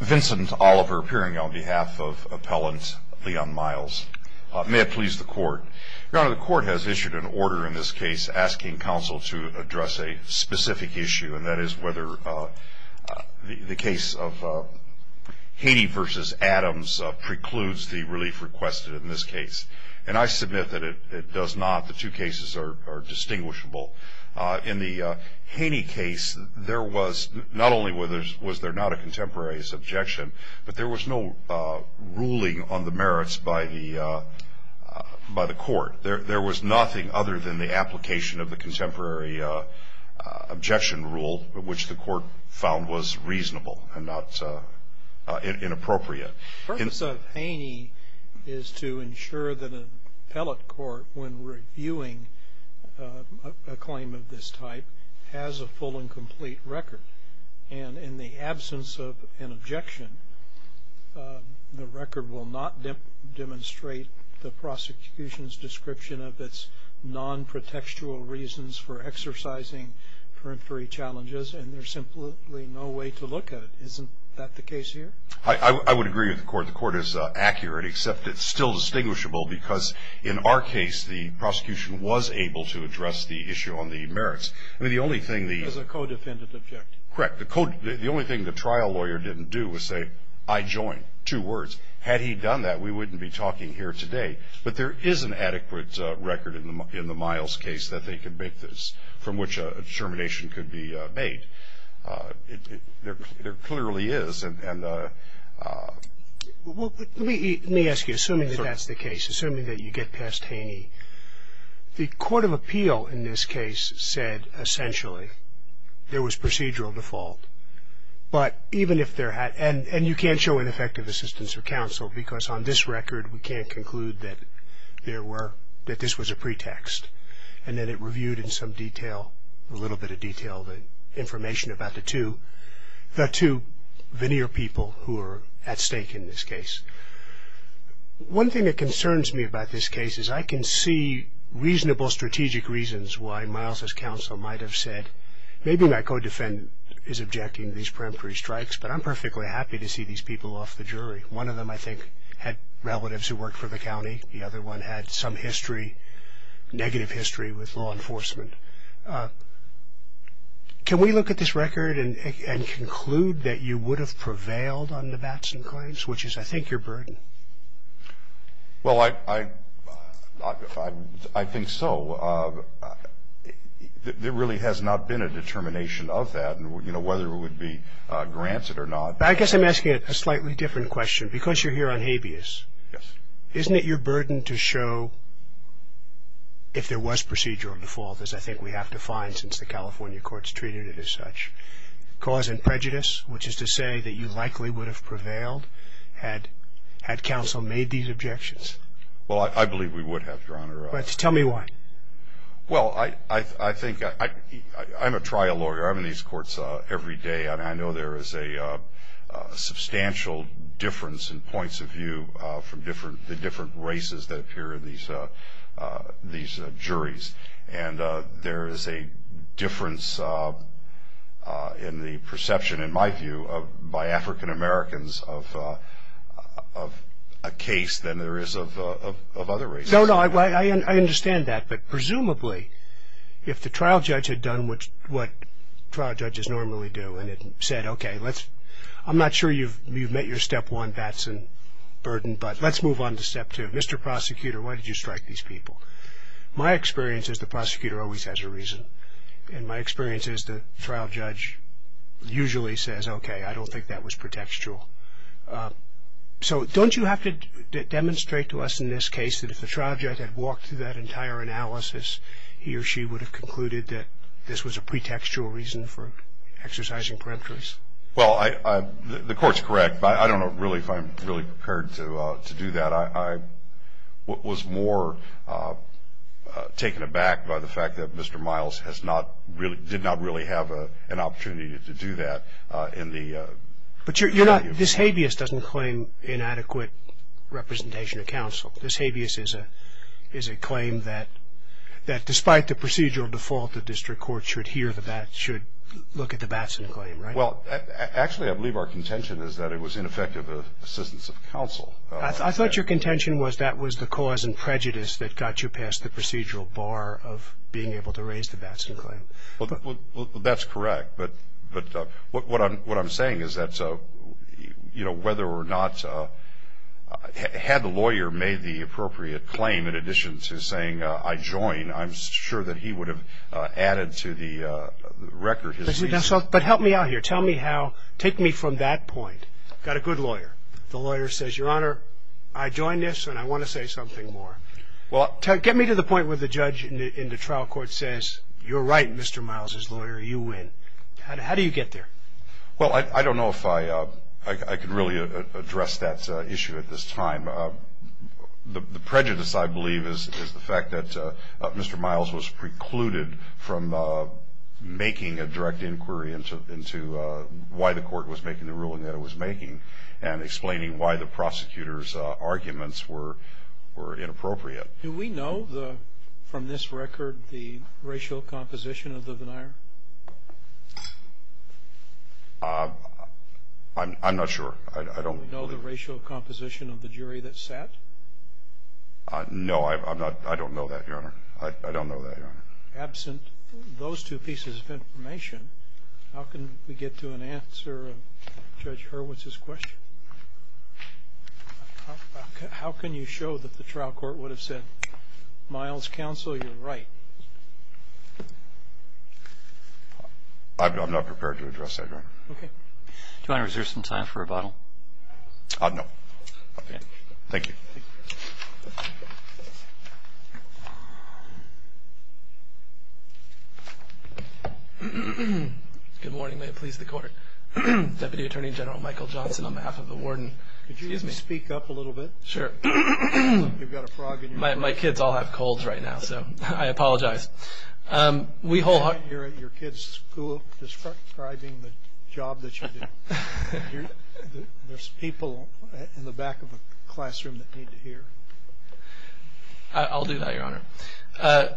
Vincent Oliver appearing on behalf of Appellant Leon Miles. May it please the Court. Your Honor, the Court has issued an order in this case asking counsel to address a specific issue, and that is whether the case of Haney v. Adams precludes the relief requested in this case. And I submit that it does not. The two cases are distinguishable. In the Haney case, there was not only was there not a contemporary objection, but there was no ruling on the merits by the Court. There was nothing other than the application of the contemporary objection rule, which the Court found was reasonable and not inappropriate. The purpose of Haney is to ensure that an appellate court, when reviewing a claim of this type, has a full and complete record. And in the absence of an objection, the record will not demonstrate the prosecution's description of its non-protextual reasons for exercising periphery challenges, and there's simply no way to look at it. Isn't that the case here? I would agree with the Court. The Court is accurate, except it's still distinguishable, because in our case, the prosecution was able to address the issue on the merits. There's a co-defendant objection. Correct. The only thing the trial lawyer didn't do was say, I join. Two words. Had he done that, we wouldn't be talking here today. But there is an adequate record in the Miles case that they can make this, from which a determination could be made. There clearly is. Let me ask you, assuming that that's the case, assuming that you get past Haney, the court of appeal in this case said, essentially, there was procedural default. But even if there had been, and you can't show ineffective assistance or counsel, because on this record, we can't conclude that there were, that this was a pretext. And then it reviewed in some detail, a little bit of detail, the information about the two veneer people who are at stake in this case. One thing that concerns me about this case is I can see reasonable strategic reasons why Miles's counsel might have said, maybe my co-defendant is objecting to these peremptory strikes, but I'm perfectly happy to see these people off the jury. One of them, I think, had relatives who worked for the county. The other one had some history, negative history, with law enforcement. Can we look at this record and conclude that you would have prevailed on the Batson claims, which is, I think, your burden? Well, I think so. There really has not been a determination of that, you know, whether it would be granted or not. I guess I'm asking a slightly different question. Because you're here on habeas, isn't it your burden to show, if there was procedural default, as I think we have to find since the California courts treated it as such, cause and prejudice, which is to say that you likely would have prevailed had counsel made these objections? Well, I believe we would have, Your Honor. Tell me why. Well, I think I'm a trial lawyer. I'm in these courts every day. And I know there is a substantial difference in points of view from the different races that appear in these juries. And there is a difference in the perception, in my view, by African Americans of a case than there is of other races. No, no, I understand that. But presumably, if the trial judge had done what trial judges normally do and had said, okay, I'm not sure you've met your step one Batson burden, but let's move on to step two. Mr. Prosecutor, why did you strike these people? My experience is the prosecutor always has a reason. And my experience is the trial judge usually says, okay, I don't think that was protectual. So don't you have to demonstrate to us in this case that if the trial judge had walked through that entire analysis, he or she would have concluded that this was a pretextual reason for exercising peremptories? Well, the Court's correct. But I don't know really if I'm really prepared to do that. I was more taken aback by the fact that Mr. Miles did not really have an opportunity to do that. But this habeas doesn't claim inadequate representation of counsel. This habeas is a claim that despite the procedural default, the district court should look at the Batson claim, right? Well, actually, I believe our contention is that it was ineffective assistance of counsel. I thought your contention was that was the cause and prejudice that got you past the procedural bar of being able to raise the Batson claim. Well, that's correct. But what I'm saying is that whether or not had the lawyer made the appropriate claim in addition to saying, I join, I'm sure that he would have added to the record his reason. But help me out here. Tell me how, take me from that point. I've got a good lawyer. The lawyer says, Your Honor, I join this and I want to say something more. Well, get me to the point where the judge in the trial court says, You're right, Mr. Miles's lawyer, you win. How do you get there? Well, I don't know if I could really address that issue at this time. The prejudice, I believe, is the fact that Mr. Miles was precluded from making a direct inquiry into why the court was making the ruling that it was making and explaining why the prosecutor's arguments were inappropriate. Do we know, from this record, the racial composition of the denier? I'm not sure. I don't believe it. Do we know the racial composition of the jury that sat? No, I don't know that, Your Honor. I don't know that, Your Honor. Absent those two pieces of information, how can we get to an answer of Judge Hurwitz's question? How can you show that the trial court would have said, Miles's counsel, you're right? I'm not prepared to address that, Your Honor. Okay. Do you want to reserve some time for rebuttal? No. Okay. Thank you. Good morning. May it please the court. Deputy Attorney General Michael Johnson, on behalf of the warden. Excuse me. Could you speak up a little bit? Sure. You've got a frog in your throat. My kids all have colds right now, so I apologize. You can't hear your kids describing the job that you do. There's people in the back of the classroom that need to hear. I'll do that, Your Honor.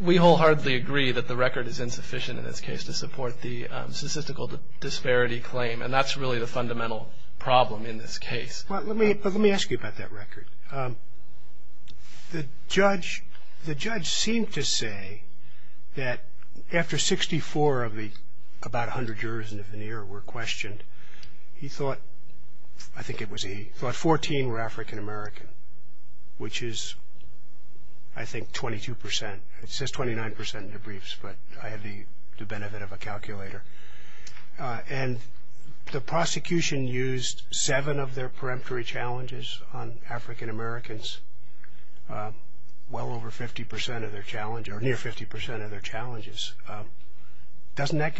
We wholeheartedly agree that the record is insufficient in this case to support the statistical disparity claim, and that's really the fundamental problem in this case. Well, let me ask you about that record. The judge seemed to say that after 64 of the about 100 jurors in the veneer were questioned, he thought 14 were African-American, which is, I think, 22%. It says 29% in the briefs, but I had the benefit of a calculator. And the prosecution used seven of their peremptory challenges on African-Americans, well over 50% of their challenge, or near 50% of their challenges. Doesn't that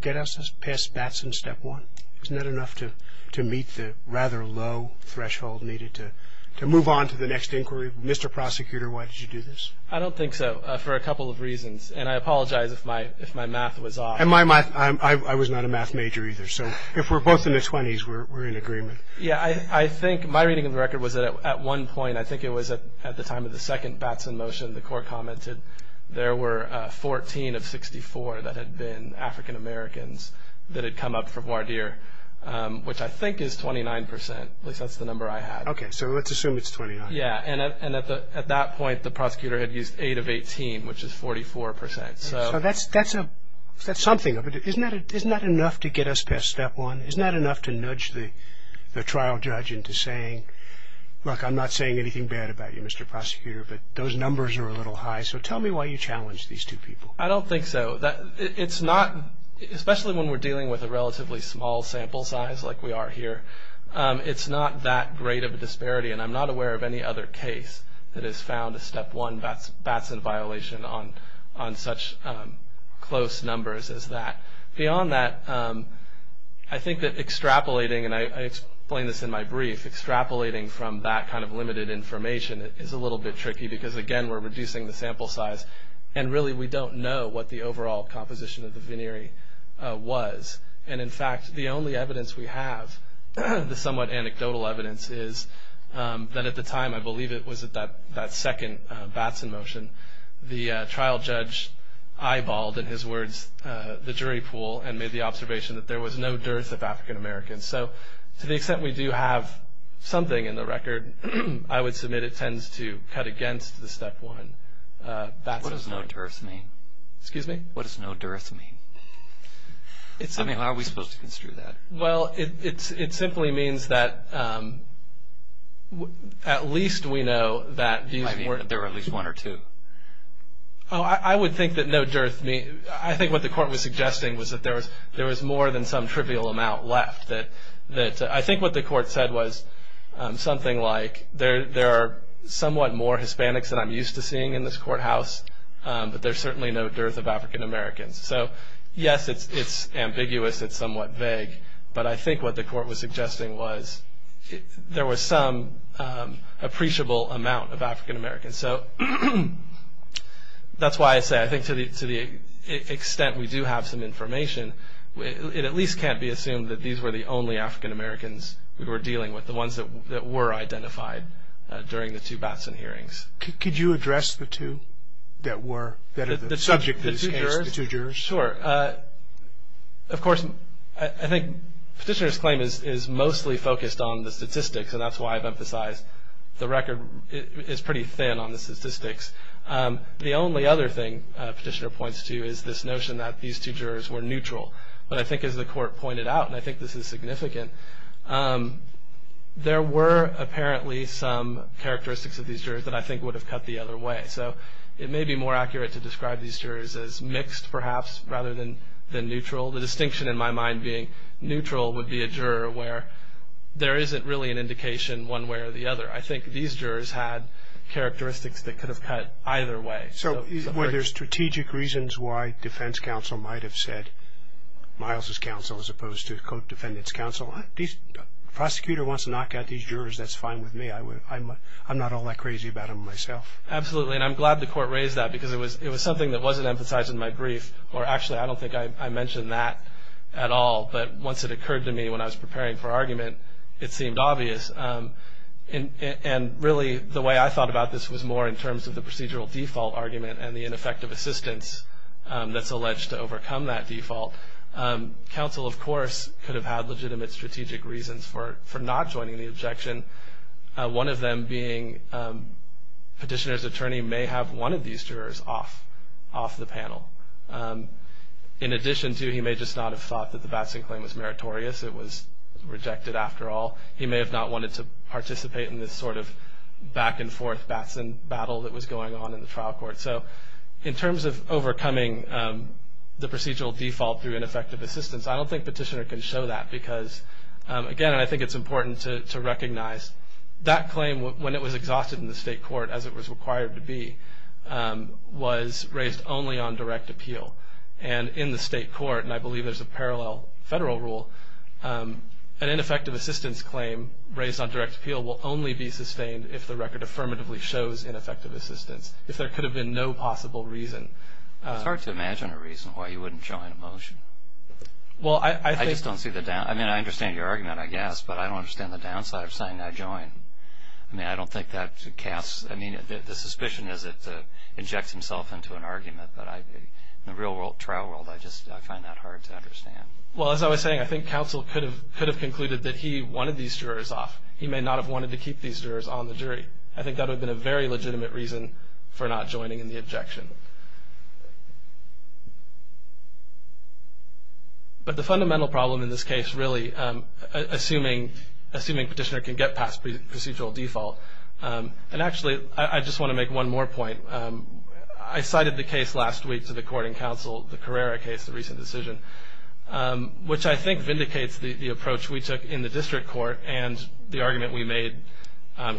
get us past Batson step one? Isn't that enough to meet the rather low threshold needed to move on to the next inquiry? Mr. Prosecutor, why did you do this? I don't think so, for a couple of reasons, and I apologize if my math was off. I was not a math major either, so if we're both in the 20s, we're in agreement. Yeah, I think my reading of the record was that at one point, I think it was at the time of the second Batson motion, the court commented, there were 14 of 64 that had been African-Americans that had come up for voir dire, which I think is 29%, at least that's the number I had. Okay, so let's assume it's 29. Yeah, and at that point, the prosecutor had used eight of 18, which is 44%. So that's something. Isn't that enough to get us past step one? Isn't that enough to nudge the trial judge into saying, look, I'm not saying anything bad about you, Mr. Prosecutor, but those numbers are a little high. So tell me why you challenged these two people. I don't think so. It's not, especially when we're dealing with a relatively small sample size like we are here, it's not that great of a disparity, and I'm not aware of any other case that has found a step one Batson violation on such close numbers as that. Beyond that, I think that extrapolating, and I explain this in my brief, extrapolating from that kind of limited information is a little bit tricky, because, again, we're reducing the sample size, and really we don't know what the overall composition of the veneery was. And, in fact, the only evidence we have, the somewhat anecdotal evidence, is that at the time, I believe it was at that second Batson motion, the trial judge eyeballed, in his words, the jury pool and made the observation that there was no dearth of African-Americans. So to the extent we do have something in the record, I would submit it tends to cut against the step one Batson. What does no dearth mean? Excuse me? What does no dearth mean? I mean, how are we supposed to construe that? Well, it simply means that at least we know that there were at least one or two. Oh, I would think that no dearth means, I think what the court was suggesting was that there was more than some trivial amount left. I think what the court said was something like there are somewhat more Hispanics than I'm used to seeing in this courthouse, but there's certainly no dearth of African-Americans. So yes, it's ambiguous, it's somewhat vague, but I think what the court was suggesting was there was some appreciable amount of African-Americans. So that's why I say I think to the extent we do have some information, it at least can't be assumed that these were the only African-Americans we were dealing with, the ones that were identified during the two Batson hearings. Could you address the two that were the subject of these cases, the two jurors? Sure. Of course, I think Petitioner's claim is mostly focused on the statistics, and that's why I've emphasized the record is pretty thin on the statistics. The only other thing Petitioner points to is this notion that these two jurors were neutral. But I think as the court pointed out, and I think this is significant, there were apparently some characteristics of these jurors that I think would have cut the other way. So it may be more accurate to describe these jurors as mixed perhaps rather than neutral. The distinction in my mind being neutral would be a juror where there isn't really an indication one way or the other. I think these jurors had characteristics that could have cut either way. So were there strategic reasons why defense counsel might have said, Miles's counsel as opposed to co-defendant's counsel? If the prosecutor wants to knock out these jurors, that's fine with me. I'm not all that crazy about them myself. Absolutely, and I'm glad the court raised that because it was something that wasn't emphasized in my brief, or actually I don't think I mentioned that at all. But once it occurred to me when I was preparing for argument, it seemed obvious. And really the way I thought about this was more in terms of the procedural default argument and the ineffective assistance that's alleged to overcome that default. Counsel, of course, could have had legitimate strategic reasons for not joining the objection. One of them being petitioner's attorney may have wanted these jurors off the panel. In addition to he may just not have thought that the Batson claim was meritorious. It was rejected after all. He may have not wanted to participate in this sort of back and forth Batson battle that was going on in the trial court. So in terms of overcoming the procedural default through ineffective assistance, I don't think petitioner can show that because, again, I think it's important to recognize that claim when it was exhausted in the state court as it was required to be was raised only on direct appeal. And in the state court, and I believe there's a parallel federal rule, an ineffective assistance claim raised on direct appeal will only be sustained if the record affirmatively shows ineffective assistance, if there could have been no possible reason. It's hard to imagine a reason why you wouldn't join a motion. I just don't see the – I mean, I understand your argument, I guess, but I don't understand the downside of saying I join. I mean, I don't think that casts – I mean, the suspicion is it injects himself into an argument. But in the real trial world, I just find that hard to understand. Well, as I was saying, I think counsel could have concluded that he wanted these jurors off. He may not have wanted to keep these jurors on the jury. I think that would have been a very legitimate reason for not joining in the objection. But the fundamental problem in this case, really, assuming petitioner can get past procedural default, and actually I just want to make one more point. I cited the case last week to the Courting Council, the Carrera case, the recent decision, which I think vindicates the approach we took in the district court and the argument we made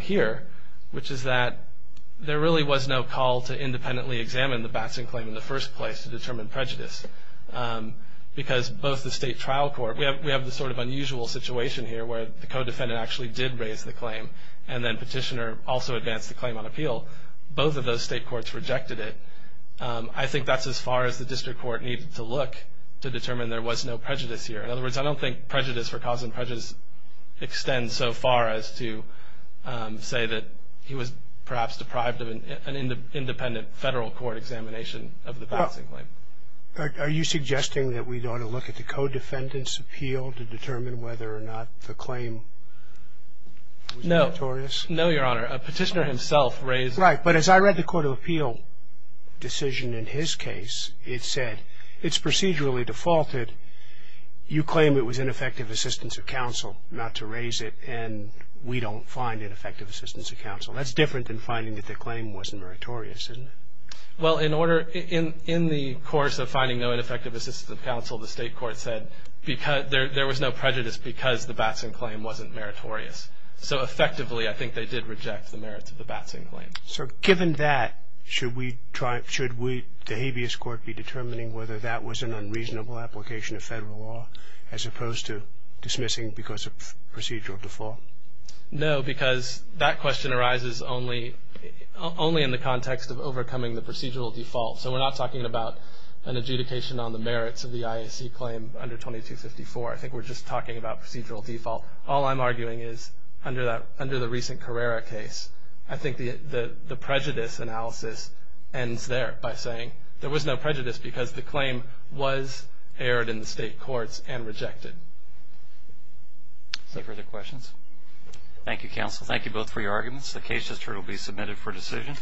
here, which is that there really was no call to independently examine the Batson claim in the first place to determine prejudice because both the state trial court – we have this sort of unusual situation here where the co-defendant actually did raise the claim and then petitioner also advanced the claim on appeal. Both of those state courts rejected it. I think that's as far as the district court needed to look to determine there was no prejudice here. In other words, I don't think prejudice for cause and prejudice extends so far as to say that he was perhaps deprived of an independent federal court examination of the Batson claim. Are you suggesting that we ought to look at the co-defendant's appeal to determine whether or not the claim was notorious? No, Your Honor. A petitioner himself raised – That's right, but as I read the court of appeal decision in his case, it said it's procedurally defaulted. You claim it was ineffective assistance of counsel not to raise it, and we don't find ineffective assistance of counsel. That's different than finding that the claim wasn't meritorious, isn't it? Well, in the course of finding no ineffective assistance of counsel, the state court said there was no prejudice because the Batson claim wasn't meritorious. So effectively, I think they did reject the merits of the Batson claim. So given that, should the habeas court be determining whether that was an unreasonable application of federal law as opposed to dismissing because of procedural default? No, because that question arises only in the context of overcoming the procedural default. So we're not talking about an adjudication on the merits of the IAC claim under 2254. I think we're just talking about procedural default. All I'm arguing is under the recent Carrera case, I think the prejudice analysis ends there by saying there was no prejudice because the claim was aired in the state courts and rejected. Any further questions? Thank you, counsel. Thank you both for your arguments. The case will be submitted for decision.